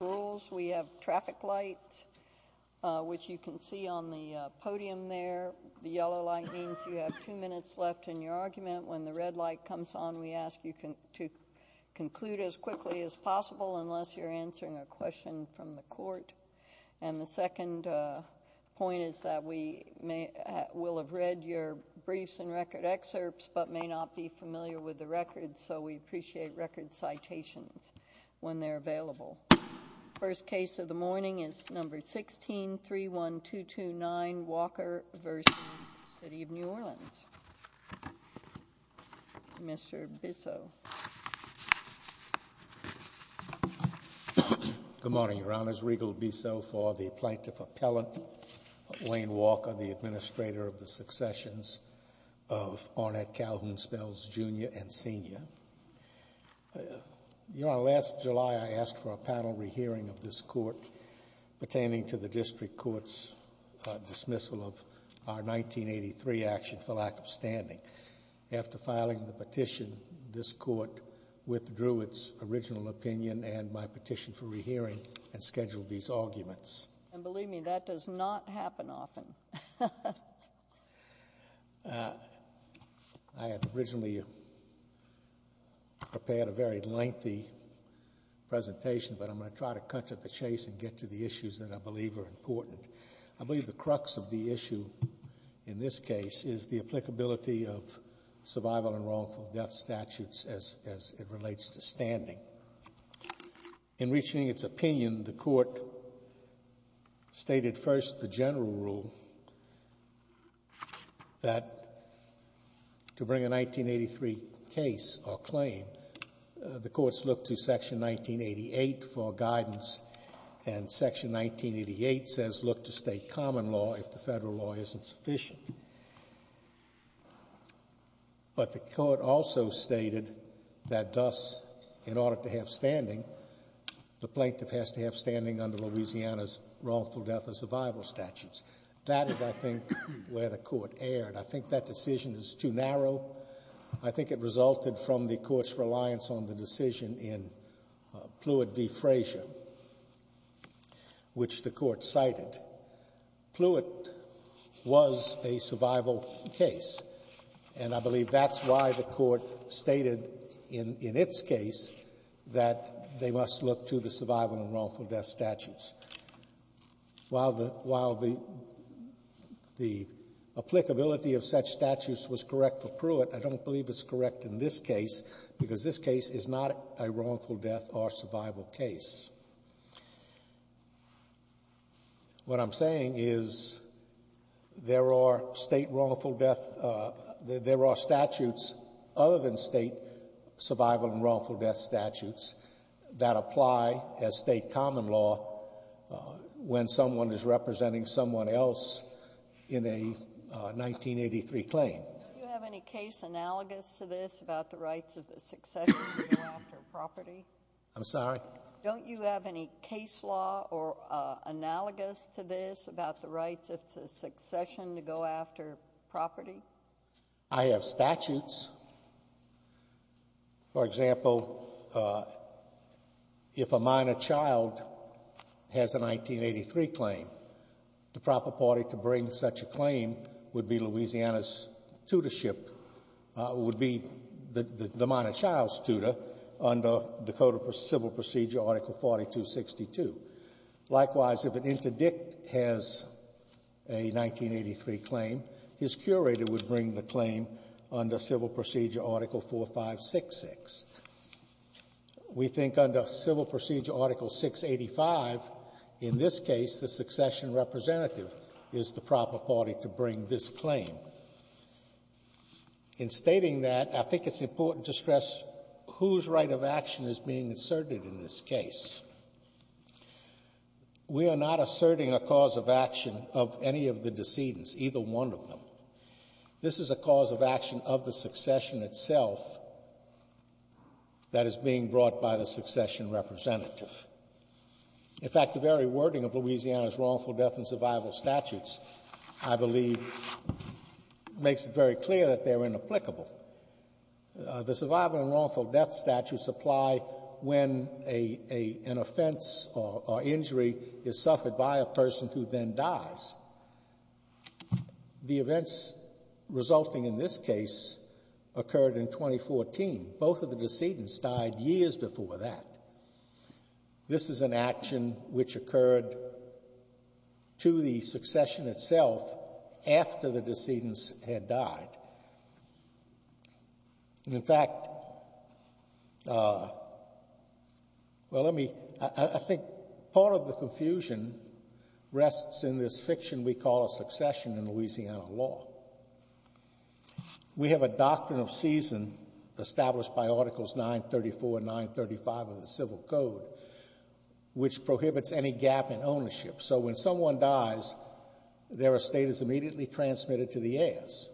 rules. We have traffic lights, which you can see on the podium there. The yellow light means you have two minutes left in your argument. When the red light comes on, we ask you to conclude as quickly as possible, unless you're answering a question from the court. And the second point is that we will have read your briefs and record excerpts, but may not be First case of the morning is number 16, 31229 Walker v. City of New Orleans. Mr. Bissell. Good morning, Your Honors. Regal Bissell for the Plaintiff Appellant, Wayne Walker, the Administrator of the Successions of Ornette Calhoun Spells Jr. and Sr. Your Honor, last July I asked for a panel re-hearing of this court pertaining to the district court's dismissal of our 1983 action for lack of standing. After filing the petition, this court withdrew its original opinion and my petition for re-hearing and scheduled these arguments. And believe but I'm going to try to cut to the chase and get to the issues that I believe are important. I believe the crux of the issue in this case is the applicability of survival and wrongful death statutes as it relates to standing. In reaching its opinion, the court stated first the general rule that to bring a 1983 case or claim, the courts looked to Section 1988 for guidance and Section 1988 says look to state common law if the federal law isn't sufficient. But the court also stated that thus, in order to have standing, the plaintiff has to have standing under Louisiana's wrongful death and survival statutes. That is, I think, where the court erred. I think that decision is too narrow. I think it resulted from the court's reliance on the decision in Pluitt v. Frazier, which the court cited. Pluitt was a survival case and I believe that's why the court stated in its case that they must look to the survival and wrongful death statutes. While the applicability of such statutes was correct for Pluitt, I don't believe it's correct in this case because this case is not a wrongful death or survival case. What I'm saying is there are state wrongful death, there are statutes other than state survival and wrongful death statutes that apply as state common law when someone is representing someone else in a 1983 claim. Do you have any case analogous to this about the rights of the succession to go after property? I'm sorry? Don't you have any case law or analogous to this about the rights of the succession to go after property? I have statutes. For example, if a minor child has a 1983 claim, the proper party to bring such a claim would be Louisiana's tutorship, would be the minor child's tutor under the Code of Civil Procedure, Article 4262. Likewise, if an interdict has a 1983 claim, his curator would bring the claim under Civil Procedure, Article 4566. We think under Civil Procedure, Article 685, in this case, the succession representative is the proper party to bring this claim. In stating that, I think it's important to stress whose right of action is being asserted in this case. We are not asserting a cause of action of any of the decedents, either one of them. This is a cause of action of the succession itself that is being brought by the succession representative. In fact, the very wording of Louisiana's wrongful death and survival death statutes, I believe, makes it very clear that they are inapplicable. The survival and wrongful death statutes apply when a — an offense or injury is suffered by a person who then dies. The events resulting in this case occurred in 2014. Both of the decedents had died. And in fact, well, let me — I think part of the confusion rests in this fiction we call a succession in Louisiana law. We have a doctrine of season established by Articles 934 and 935 of the Civil Code, which prohibits any gap in ownership. So when someone dies, their estate is immediately transmitted to the heirs.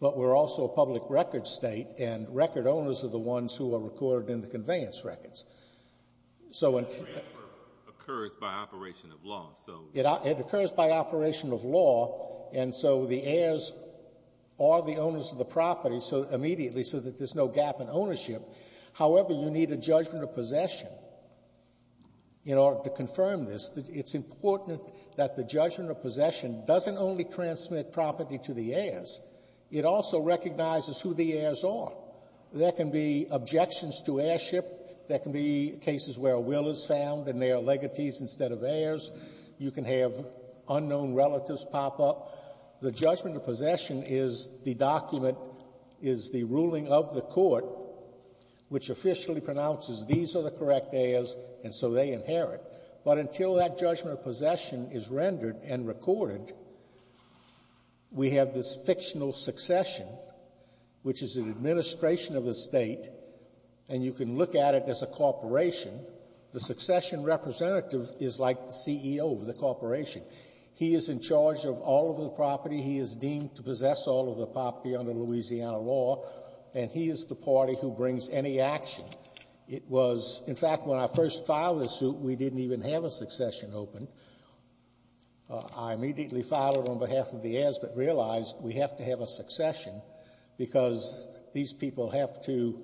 But we're also a public records State, and record owners are the ones who are recorded in the conveyance records. So — The transfer occurs by operation of law, so — It occurs by operation of law, and so the heirs are the owners of the property so — immediately so that there's no gap in ownership. However, you need a judgment of possession in order to confirm this. It's important that the judgment of possession doesn't only transmit property to the heirs. It also recognizes who the heirs are. There can be objections to heirship. There can be cases where a will is found and they are legates instead of heirs. You can have unknown relatives pop up. The judgment of possession is the document, is the ruling of the Court, which officially pronounces these are the correct heirs, and so they inherit. But until that judgment of possession is rendered and recorded, we have this fictional succession, which is an administration of the State, and you can look at it as a corporation. The succession representative is like the CEO of the corporation. He is in charge of all of the property. He is deemed to possess all of the property under Louisiana law, and he is the party who brings any action. It was — in fact, when I first filed this suit, we didn't even have a succession open. I immediately filed it on behalf of the heirs but realized we have to have a succession because these people have to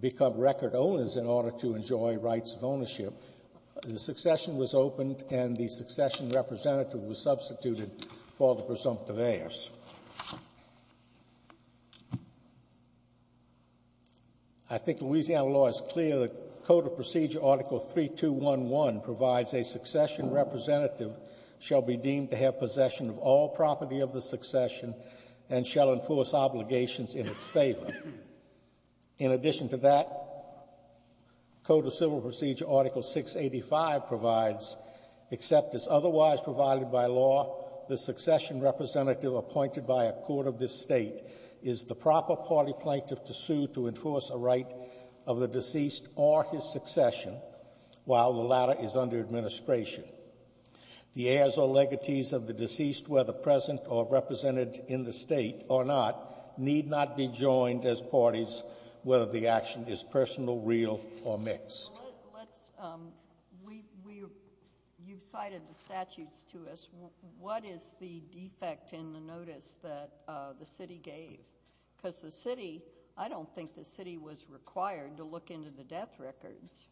become record owners in order to enjoy rights of ownership. The succession was opened and the succession representative was substituted for the presumptive heirs. I think Louisiana law is clear. The Code of Procedure Article 3211 provides a succession representative shall be deemed to have possession of all property of the succession and shall enforce obligations in its favor. In addition to that, Code of Civil Procedure Article 685 provides, except as otherwise provided by law, the succession representative appointed by a court of this State is the proper party plaintiff to sue to enforce a right of the deceased or his succession while the latter is under administration. The heirs or legacies of the deceased, whether present or represented in the State or not, need not be joined as parties whether the action is personal, real, or mixed. Well, let's, um, we, we, you've cited the statutes to us. What is the defect in the notice that the City gave? Because the City, I don't think the City was required to look into the death records.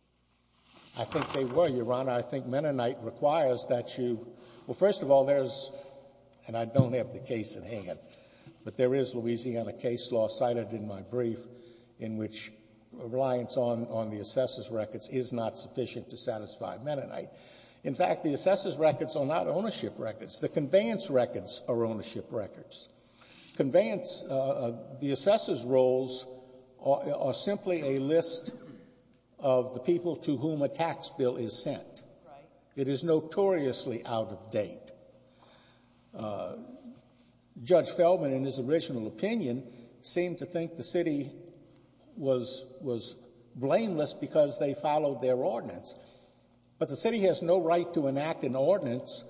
I think they were, Your Honor. I think Mennonite requires that you, well, first of all, there's, and I don't have the case at hand, but there is Louisiana case law cited in my brief in which reliance on, on the assessor's records is not sufficient to satisfy Mennonite. In fact, the assessor's records are not ownership records. The conveyance records are ownership records. Conveyance, the assessor's roles are simply a list of the people to whom a tax bill is sent. Right. It is notoriously out of date. Judge Feldman, in his original opinion, seemed to think the City was, was blameless because they followed their ordinance. But the City has no right to enact an ordinance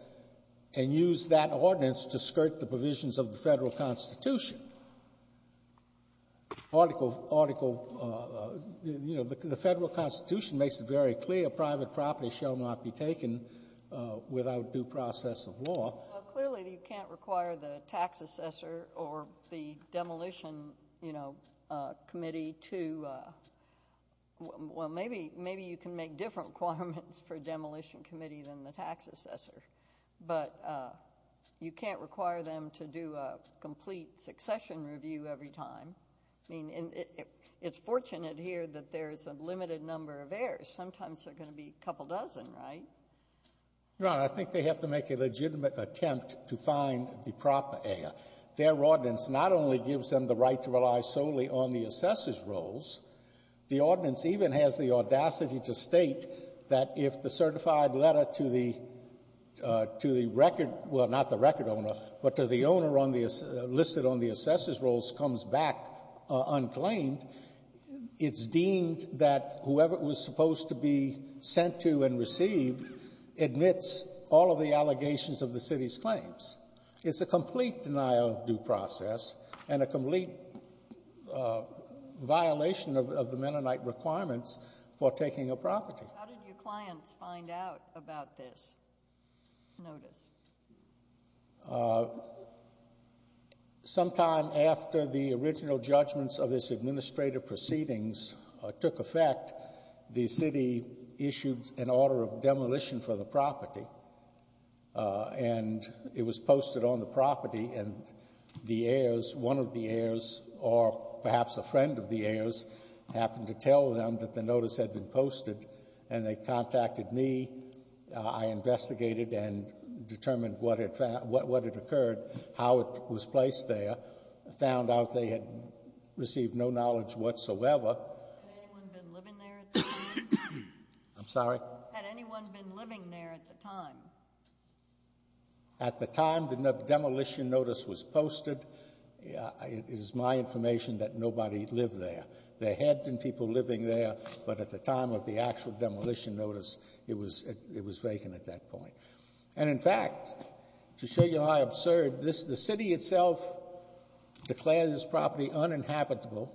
and use that ordinance to skirt the provisions of the Federal Constitution. Article, article, you know, the Federal Constitution makes it very clear private property shall not be taken without due process of law. Well, clearly you can't require the tax assessor or the demolition, you know, committee to, well, maybe, maybe you can make different requirements for demolition committee than the tax assessor. But you can't require them to do a complete succession review every time. I mean, it's fortunate here that there is a limited number of heirs. Sometimes there are going to be a couple dozen, right? Your Honor, I think they have to make a legitimate attempt to find the proper heir. Their ordinance not only gives them the right to rely solely on the assessor's roles, the ordinance even has the audacity to state that if the certified letter to the, to the record — well, not the record owner, but to the owner on the — listed on the assessor's roles comes back unclaimed, it's deemed that whoever it was supposed to be sent to and received admits all of the allegations of the city's claims. It's a complete denial of due process and a complete violation of the Mennonite requirements for taking a property. How did your clients find out about this notice? Sometime after the original judgments of this administrative proceedings took effect, the city issued an order of demolition for the property, and it was posted on the property, and the heirs, one of the heirs, or perhaps a friend of the heirs, happened to tell them that the notice had been posted, and they contacted me. I investigated and determined what had — what had occurred, how it was placed there, found out they had received no knowledge whatsoever. Had anyone been living there at the time? I'm sorry? Had anyone been living there at the time? At the time the demolition notice was posted, it is my information that nobody lived there. There had been people living there, but at the time of the actual demolition notice, it was vacant at that point. And in fact, to show you how absurd this — the city itself declared this property uninhabitable,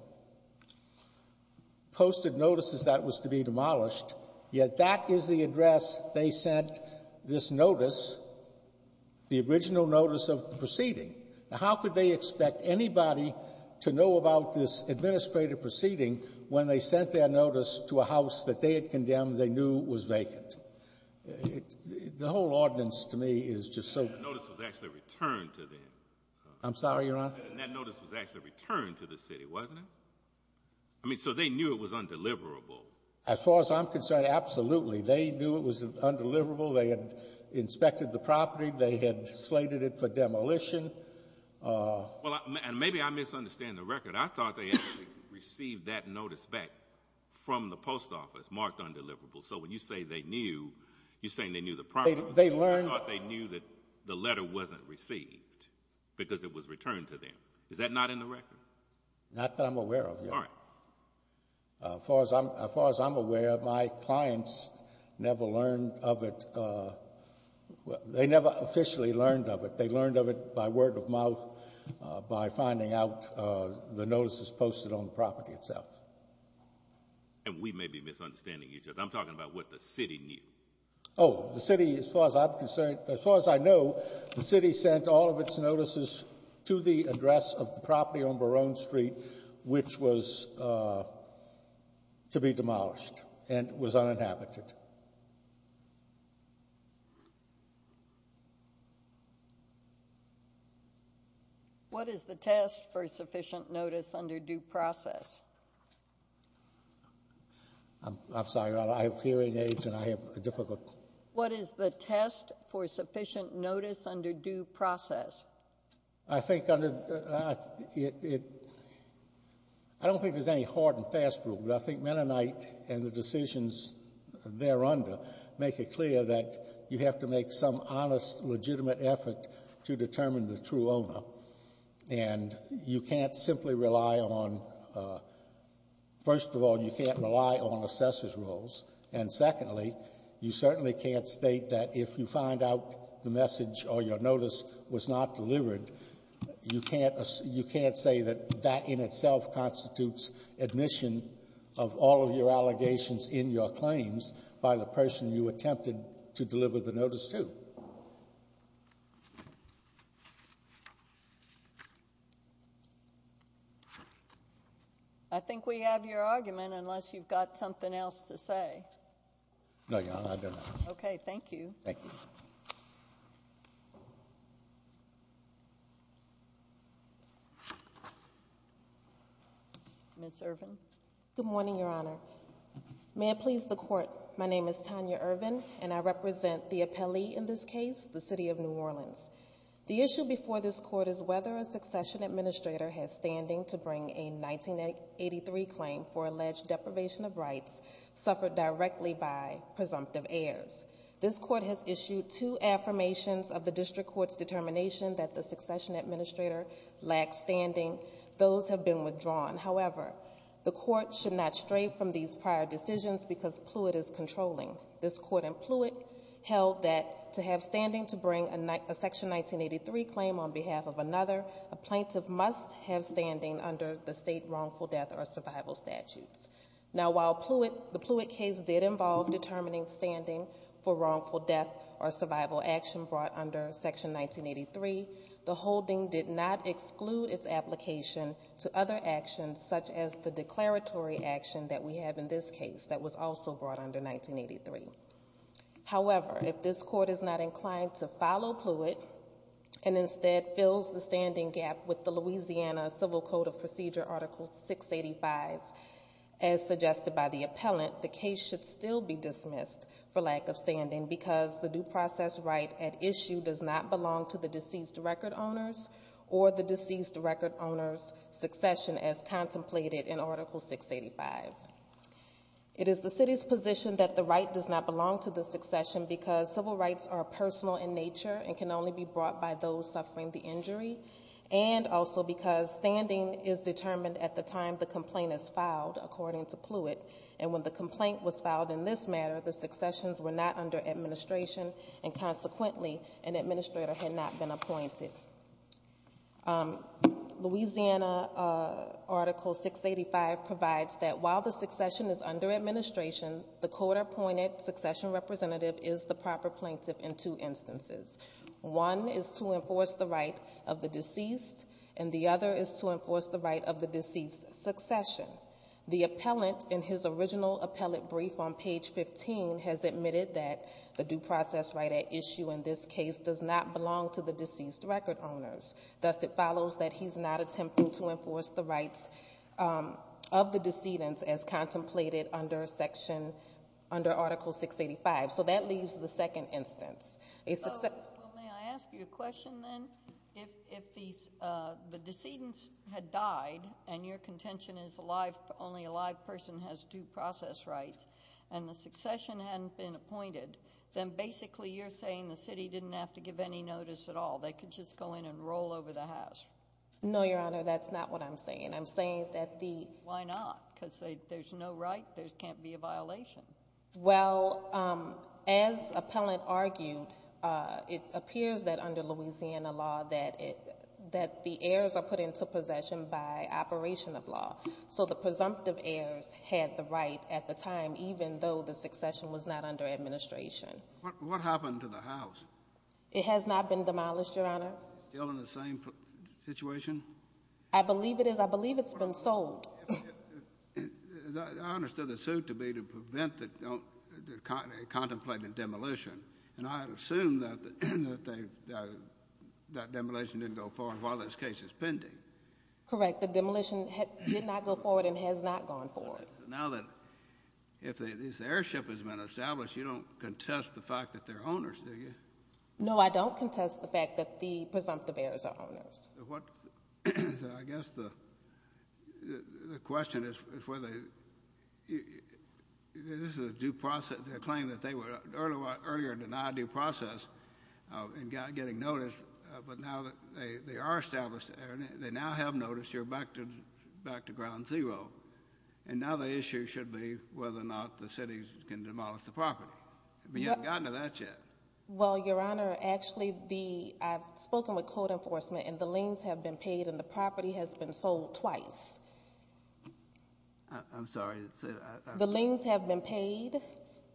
posted notices that it was to be demolished, yet that is the address they sent this notice, the original notice of the proceeding. Now, how could they expect anybody to know about this administrative proceeding when they sent their notice to a house that they had condemned they knew was vacant? The whole ordinance to me is just so — The notice was actually returned to them. I'm sorry, Your Honor? And that notice was actually returned to the city, wasn't it? I mean, so they knew it was undeliverable. As far as I'm concerned, absolutely. They knew it was undeliverable. They had inspected the property. They had slated it for demolition. And maybe I misunderstand the record. I thought they actually received that notice back from the post office marked undeliverable. So when you say they knew, you're saying they knew the property — They learned — I thought they knew that the letter wasn't received because it was returned to them. Is that not in the record? Not that I'm aware of, Your Honor. All right. As far as I'm aware, my clients never learned of it. They never officially learned of it. They learned of it by word of mouth, by finding out the notices posted on the property itself. And we may be misunderstanding each other. I'm talking about what the city knew. Oh, the city, as far as I'm concerned — as far as I know, the city sent all of its notices to the address of the property on Barone Street, which was to be demolished and was uninhabited. What is the test for sufficient notice under due process? I'm sorry, Your Honor. I have hearing aids and I have a difficult — What is the test for sufficient notice under due process? I think under — I don't think there's any hard and fast rule, but I think Mennonite and the decisions thereunder make it clear that you have to make some honest, legitimate effort to determine the true owner. And you can't simply rely on — first of all, you can't rely on assessor's rules. And secondly, you certainly can't state that if you find out the message or your notice was not delivered, you can't — you can't say that that in itself constitutes admission of all of your allegations in your claims by the person you attempted to deliver the notice to. I think we have your argument, unless you've got something else to say. No, Your Honor, I don't have anything. Okay. Thank you. Thank you. Ms. Irvin? Good morning, Your Honor. May it please the Court, my name is Tanya Irvin. I'm a lawyer and I represent the appellee in this case, the City of New Orleans. The issue before this Court is whether a succession administrator has standing to bring a 1983 claim for alleged deprivation of rights suffered directly by presumptive heirs. This Court has issued two affirmations of the District Court's determination that the succession administrator lacks standing. Those have been withdrawn. However, the Court should not stray from these prior decisions because Plewitt is controlling. This Court in Plewitt held that to have standing to bring a Section 1983 claim on behalf of another, a plaintiff must have standing under the state wrongful death or survival statutes. Now, while Plewitt — the Plewitt case did involve determining standing for wrongful death or survival action brought under Section 1983, the holding did not exclude its application to other actions such as the declaratory action that we have in this case that was also brought under 1983. However, if this Court is not inclined to follow Plewitt and instead fills the standing gap with the Louisiana Civil Code of Procedure Article 685, as suggested by the appellant, the case should still be dismissed for lack of standing because the due process right at issue does not belong to the deceased record owners or the deceased record owner's succession as contemplated in Article 685. It is the City's position that the right does not belong to the succession because civil rights are personal in nature and can only be brought by those suffering the injury and also because standing is determined at the time the complaint is filed, according to Plewitt, and when the complaint was filed in this matter, the successions were not under administration and consequently, an administrator had not been appointed. Louisiana Article 685 provides that while the succession is under administration, the court-appointed succession representative is the proper plaintiff in two instances. One is to enforce the right of the deceased and the other is to enforce the right of the deceased's succession. The appellant, in his original appellate brief on page 15, has admitted that the due process right at issue in this case does not belong to the deceased record owners. Thus, it follows that he's not attempting to enforce the rights of the decedent as contemplated under Article 685. So that leaves the second instance. Well, may I ask you a question then? If the decedent had died and your contention is only a live person has due process rights and the succession hadn't been appointed, then basically you're saying the City didn't have to give any notice at all. They could just go in and No, Your Honor. That's not what I'm saying. I'm saying that the Why not? Because there's no right. There can't be a violation. Well, as appellant argued, it appears that under Louisiana law that the heirs are put into possession by operation of law. So the presumptive heirs had the right at the time even though the succession was not under administration. What happened to the house? It has not been demolished, Your Honor. Still in the same situation? I believe it is. I believe it's been sold. I understood the suit to be to prevent a contemplated demolition. And I assume that that demolition didn't go forward while this case is pending. Correct. The demolition did not go forward and has not gone forward. Now that if this heirship has been established, you don't contest the fact that they're owners, do you? No, I don't contest the fact that the presumptive heirs are owners. I guess the question is whether this is a due process. They claim that they were earlier denied due process and got getting notice. But now they are established. They now have noticed you're back to ground zero. And now the issue should be whether or not the city can demolish the property. But you haven't gotten to that yet. Well, Your Honor, actually, I've spoken with code enforcement and the liens have been paid and the property has been sold twice. I'm sorry. The liens have been paid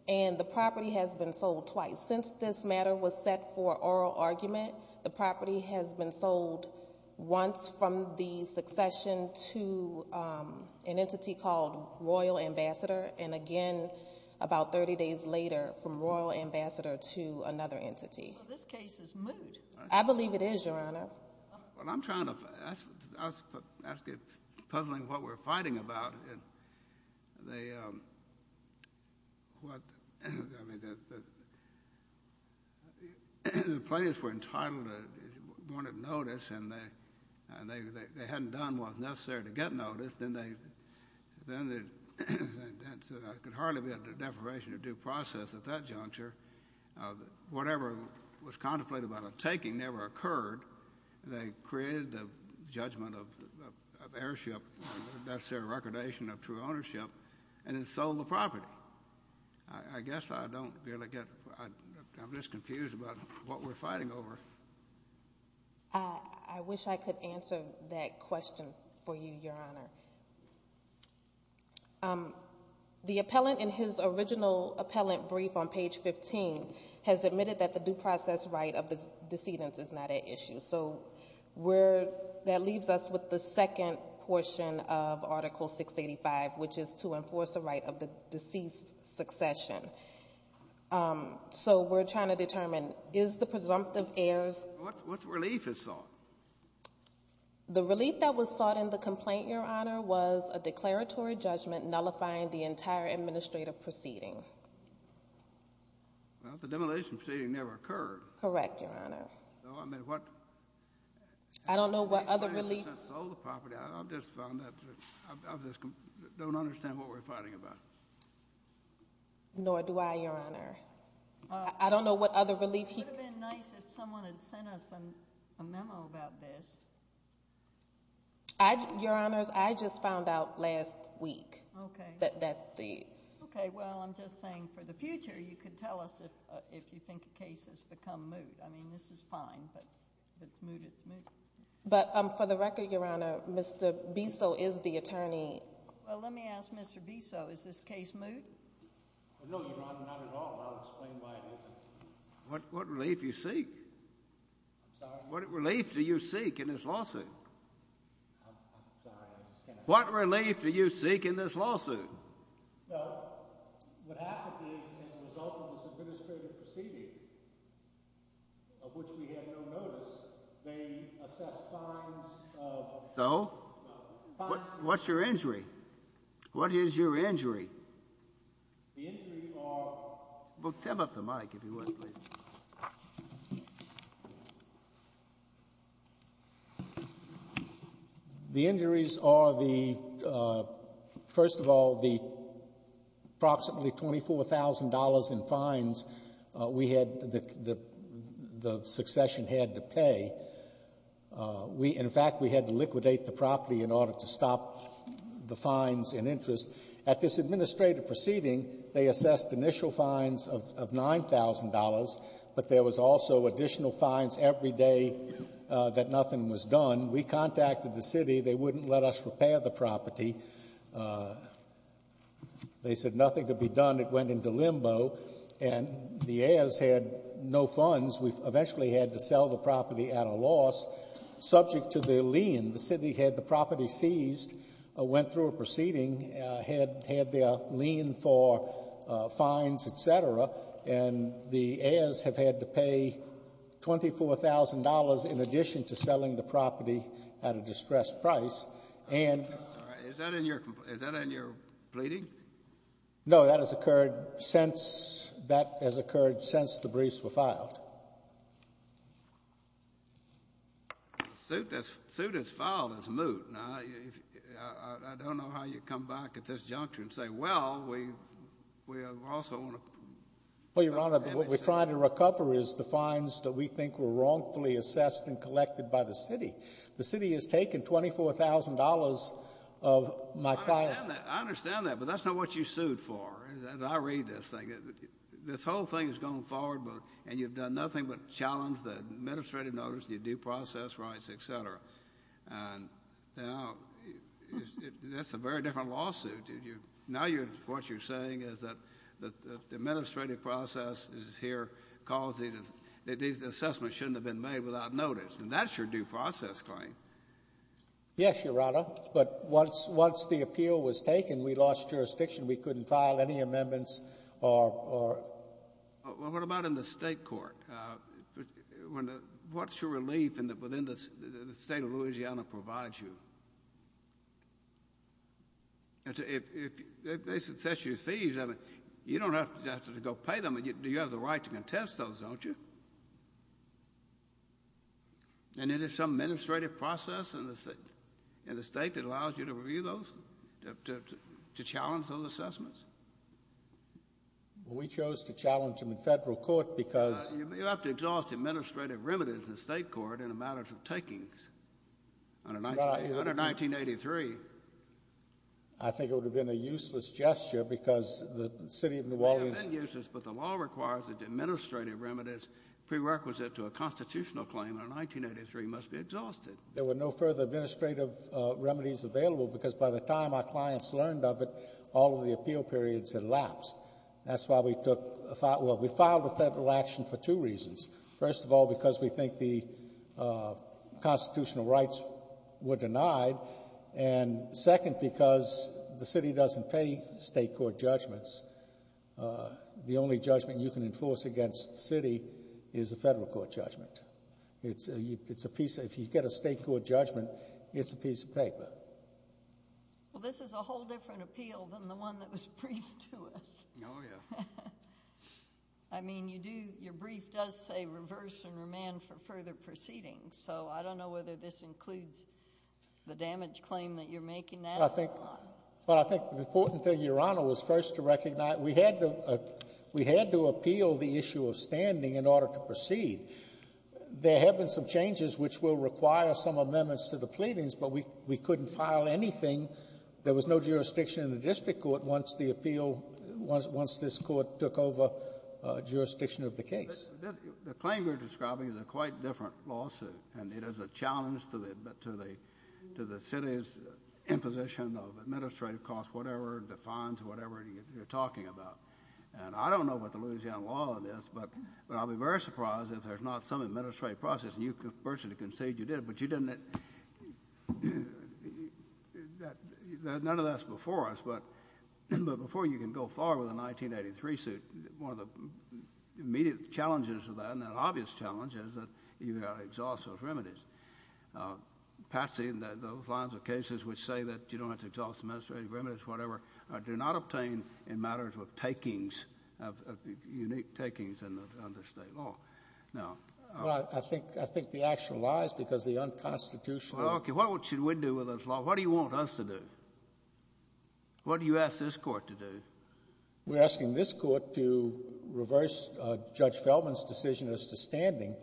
and the property has been sold twice. Since this matter was set for oral argument, the property has been sold once from the succession to an entity called Royal Ambassador. And again, about 30 days later, from Royal Ambassador to another entity. So this case is moot. I believe it is, Your Honor. Well, I'm trying to, I was puzzling what we're fighting about. They, what, I mean, the plaintiffs were entitled to wanted notice and they hadn't done what was necessary to get notice. Then they, then the, I could hardly be at the deprivation of due process at that juncture. Whatever was contemplated by the taking never occurred. They created the judgment of, of heirship, necessary recordation of true ownership, and then sold the property. I guess I don't really get, I'm just confused about what we're fighting over. I wish I could answer that question for you, Your Honor. The appellant in his original appellant brief on page 15 has admitted that the due process right of the decedent is not at issue. So we're, that leaves us with the second portion of Article 685, which is to enforce the right of the deceased succession. So we're trying to determine, is the presumptive is. What relief is sought? The relief that was sought in the complaint, Your Honor, was a declaratory judgment nullifying the entire administrative proceeding. Well, the demolition proceeding never occurred. Correct, Your Honor. So, I mean, what. I don't know what other relief. Sold the property. I just found that, I just don't understand what we're fighting about. Nor do I, Your Honor. I don't know what other relief he. It would have been nice if someone had sent us a memo about this. I, Your Honors, I just found out last week. Okay. That, that the. Okay, well, I'm just saying, for the future, you could tell us if, if you think a case has become moot. I mean, this is fine, but if it's moot, it's moot. But, for the record, Your Honor, Mr. Bissell is the attorney. Well, let me ask Mr. Bissell, is this case moot? No, Your Honor, not at all. I'll explain why it isn't. What, what relief do you seek? I'm sorry? What relief do you seek in this lawsuit? I'm, I'm sorry. I just can't. What relief do you seek in this lawsuit? Well, what happened is, as a result of this administrative proceeding, of which we had no notice, they assessed fines of. So? What's your injury? What is your injury? The injury are. Well, tip up the mic, if you would, please. The injuries are the, first of all, the approximately $24,000 in fines we had the, the succession had to pay. We, in fact, we had to liquidate the property in order to stop the fines and interest. At this administrative proceeding, they assessed initial fines of $9,000, but there was also additional fines every day that nothing was done. We contacted the city. They wouldn't let us repair the property. They said nothing could be done. It went into limbo, and the heirs had no funds. We eventually had to sell the property at a loss subject to their lien. The city had the property seized, went through a proceeding, had, had their lien for fines, et cetera, and the heirs have had to pay $24,000 in addition to selling the property at a distressed price. And. Is that in your, is that in your pleading? No. That has occurred since, that has occurred since the briefs were filed. The suit that's, the suit that's filed is moot. Now, I don't know how you come back at this juncture and say, well, we, we also want to. Well, Your Honor, what we're trying to recover is the fines that we think were wrongfully assessed and collected by the city. The city has taken $24,000 of my clients. I understand that, but that's not what you sued for. I read this thing. This whole thing is going forward, but, and you've done nothing but challenge the administrative notice, the due process rights, et cetera. And now, that's a very different lawsuit. Now you're, what you're saying is that, that the administrative process is here, calls these, that these assessments shouldn't have been made without notice. And that's your due process claim. Yes, Your Honor. But once, once the appeal was taken, we lost jurisdiction. We couldn't file any amendments or, or. Well, what about in the state court? When the, what's your relief in the, within the do you have the right to contest those, don't you? And is there some administrative process in the, in the state that allows you to review those, to, to challenge those assessments? We chose to challenge them in federal court because. You have to exhaust administrative remedies in the state court in the matters of takings under 1983. I think it would have been a useless gesture because the city of New Orleans. It would have been useless, but the law requires that the administrative remedies prerequisite to a constitutional claim under 1983 must be exhausted. There were no further administrative remedies available because by the time our clients learned of it, all of the appeal periods had lapsed. That's why we took, well, we filed a federal action for two reasons. First of all, because we think the constitutional rights were denied. And second, because the city doesn't pay state court judgments. The only judgment you can enforce against the city is a federal court judgment. It's a, it's a piece, if you get a state court judgment, it's a piece of paper. Well, this is a whole different appeal than the one that was briefed to us. Oh, yeah. I mean, you do, your brief does say reverse and remand for further proceedings. So I don't know whether this includes the damage claim that you're making now. I think, well, I think the important thing, Your Honor, was first to recognize we had to, we had to appeal the issue of standing in order to proceed. There have been some changes which will require some amendments to the pleadings, but we, we couldn't file anything. There was no jurisdiction in the district court once the appeal, once this court took over jurisdiction of the case. The claim you're describing is a quite different lawsuit, and it is a challenge to the, to the, to the city's imposition of administrative costs, whatever, the fines, whatever you're talking about. And I don't know about the Louisiana law on this, but I'll be very surprised if there's not some administrative process, and you personally concede you did, but you didn't, that, none of that's before us, but, but before you can go far with a 1983 suit, one of the immediate challenges of that, and an obvious challenge, is that you've got to exhaust those remedies. Patsy and those lines of cases which say that you don't have to exhaust administrative remedies, whatever, do not obtain in matters of takings, of, of unique takings under State law. Now. Well, I, I think, I think the actual lies, because the unconstitutional. Well, okay, what should we do with this law? What do you want us to do? What do you ask this court to do? We're asking this court to reverse Judge Feldman's decision as to standing,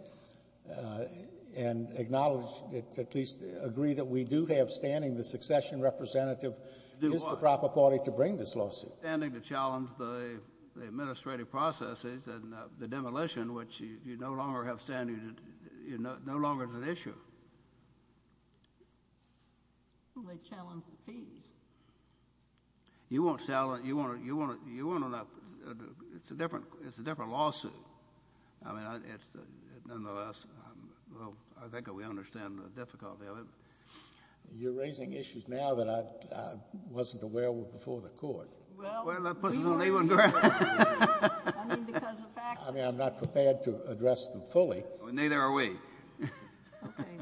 and acknowledge, at least agree that we do have standing, the succession representative is the proper party to bring this lawsuit. Well, standing to challenge the, the administrative processes and the demolition, which you no longer have standing to, no longer is an issue. Well, they challenge the fees. You won't challenge, you won't, you won't, you won't, it's a different, it's a different lawsuit. I mean, it's, nonetheless, well, I think we understand the difficulty of it. You're raising issues now that I, I wasn't aware were before the court. Well. Well, that puts us on a one ground. I mean, because of facts. I mean, I'm not prepared to address them fully. Neither are we. Okay.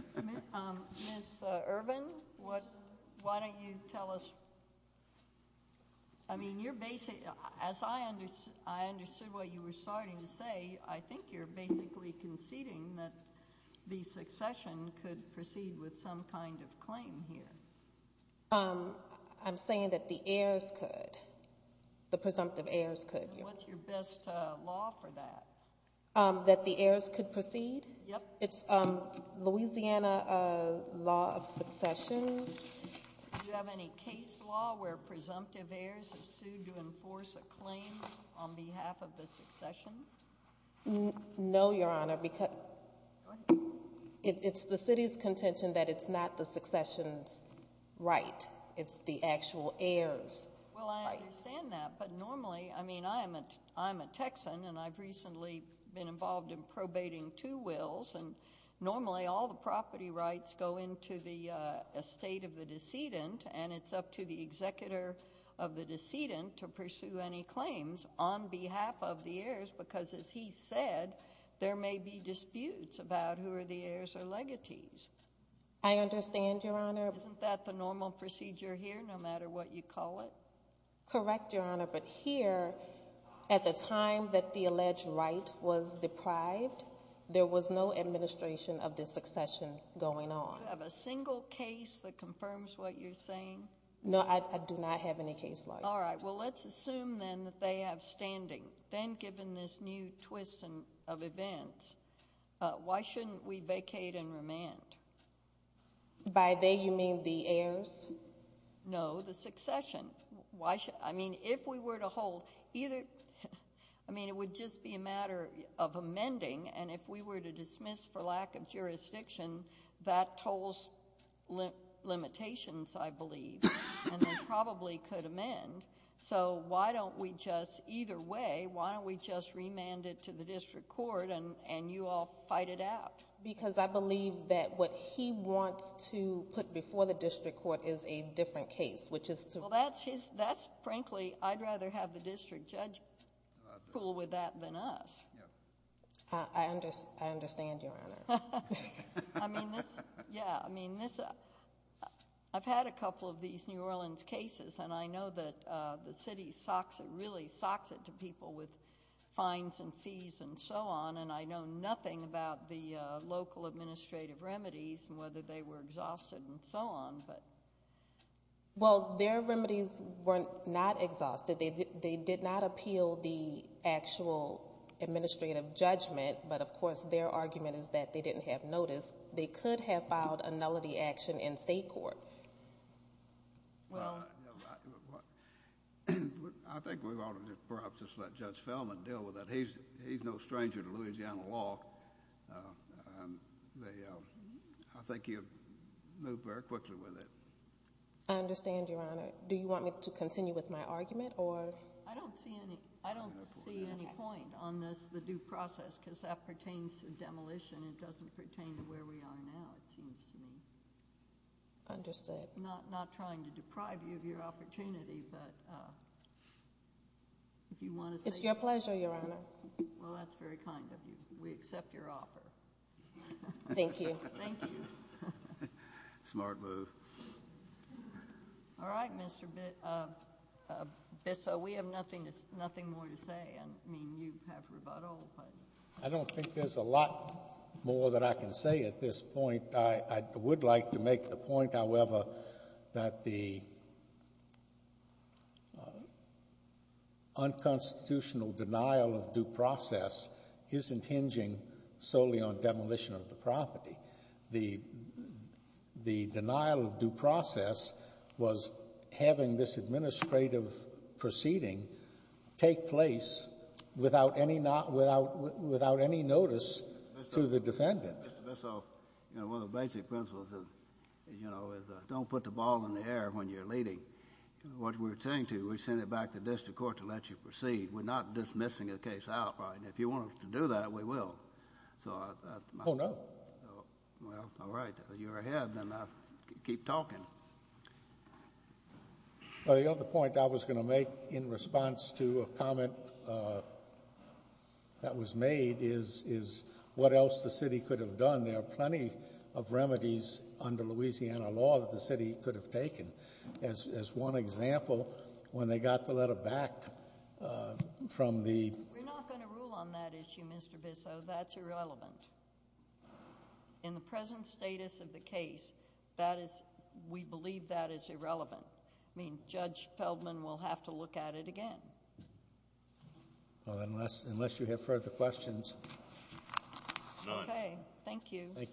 Ms. Irvin, what, why don't you tell us, I mean, you're basically, as I understood, I understood what you were starting to say, I think you're basically conceding that the succession could proceed with some kind of claim here. I'm saying that the heirs could, the presumptive heirs could. What's your best law for that? That the heirs could proceed? Yep. It's Louisiana law of succession. Do you have any case law where presumptive heirs are sued to enforce a claim on behalf of the succession? No, Your Honor, because it's the city's contention that it's not the succession's right. It's the actual heir's right. Well, I understand that, but normally, I mean, I'm a Texan, and I've recently been involved in probating two wills, and normally all the property rights go into the estate of the decedent, and it's up to the executor of the decedent to because, as he said, there may be disputes about who are the heirs or legatees. I understand, Your Honor. Isn't that the normal procedure here, no matter what you call it? Correct, Your Honor, but here, at the time that the alleged right was deprived, there was no administration of the succession going on. Do you have a single case that confirms what you're saying? No, I do not have any case law. All right. Well, let's assume, then, that they have standing. Then, given this new twist of events, why shouldn't we vacate and remand? By they, you mean the heirs? No, the succession. I mean, if we were to hold either, I mean, it would just be a matter of amending, and if we were to dismiss for lack of jurisdiction, that tolls limitations, I believe, and they probably could amend. So, why don't we just, either way, why don't we just remand it to the district court and you all fight it out? Because I believe that what he wants to put before the district court is a different case, which is to... Well, that's, frankly, I'd rather have the district judge fool with that than us. I understand, Your Honor. I mean, this... Yeah, I mean, this... I've had a couple of these New Orleans cases, and I know that the city really socks it to people with fines and fees and so on, and I know nothing about the local administrative remedies and whether they were exhausted and so on, but... Well, their remedies were not exhausted. They did not appeal the actual administrative judgment, but, of course, their argument is that they didn't have notice. They could have filed a nullity action in state court. Well... I think we ought to perhaps just let Judge Feldman deal with that. He's no stranger to Louisiana law, and I think he'll move very quickly with it. I understand, Your Honor. Do you want me to continue with my argument, or... I don't see any point on this, the due process, because that pertains to demolition. It doesn't pertain to where we are now, it seems to me. I understand. I'm not trying to deprive you of your opportunity, but if you want to... It's your pleasure, Your Honor. Well, that's very kind of you. We accept your offer. Thank you. Thank you. Smart move. All right, Mr. Bissell. We have nothing more to say. I mean, you have rebuttal. I don't think there's a lot more that I can say at this point. I would like to make the point, however, that the unconstitutional denial of due process isn't hinging solely on demolition of the property. The denial of due process was having this administrative proceeding take place without any notice to the defendant. Mr. Bissell, one of the basic principles is don't put the ball in the air when you're leading. What we're saying to you, we're sending it back to the district court to let you proceed. We're not dismissing the case outright, and if you want us to do that, we will. Oh, no. Well, all right. You're ahead, then I'll keep talking. Well, the other point I was going to make in response to a comment that was made is what else the city could have done. There are plenty of remedies under Louisiana law that the city could have taken. As one example, when they got the letter back from the ---- We're not going to rule on that issue, Mr. Bissell. That's irrelevant. In the present status of the case, we believe that is irrelevant. Judge Feldman will have to look at it again. Unless you have further questions. None. Okay. Thank you. Thank you.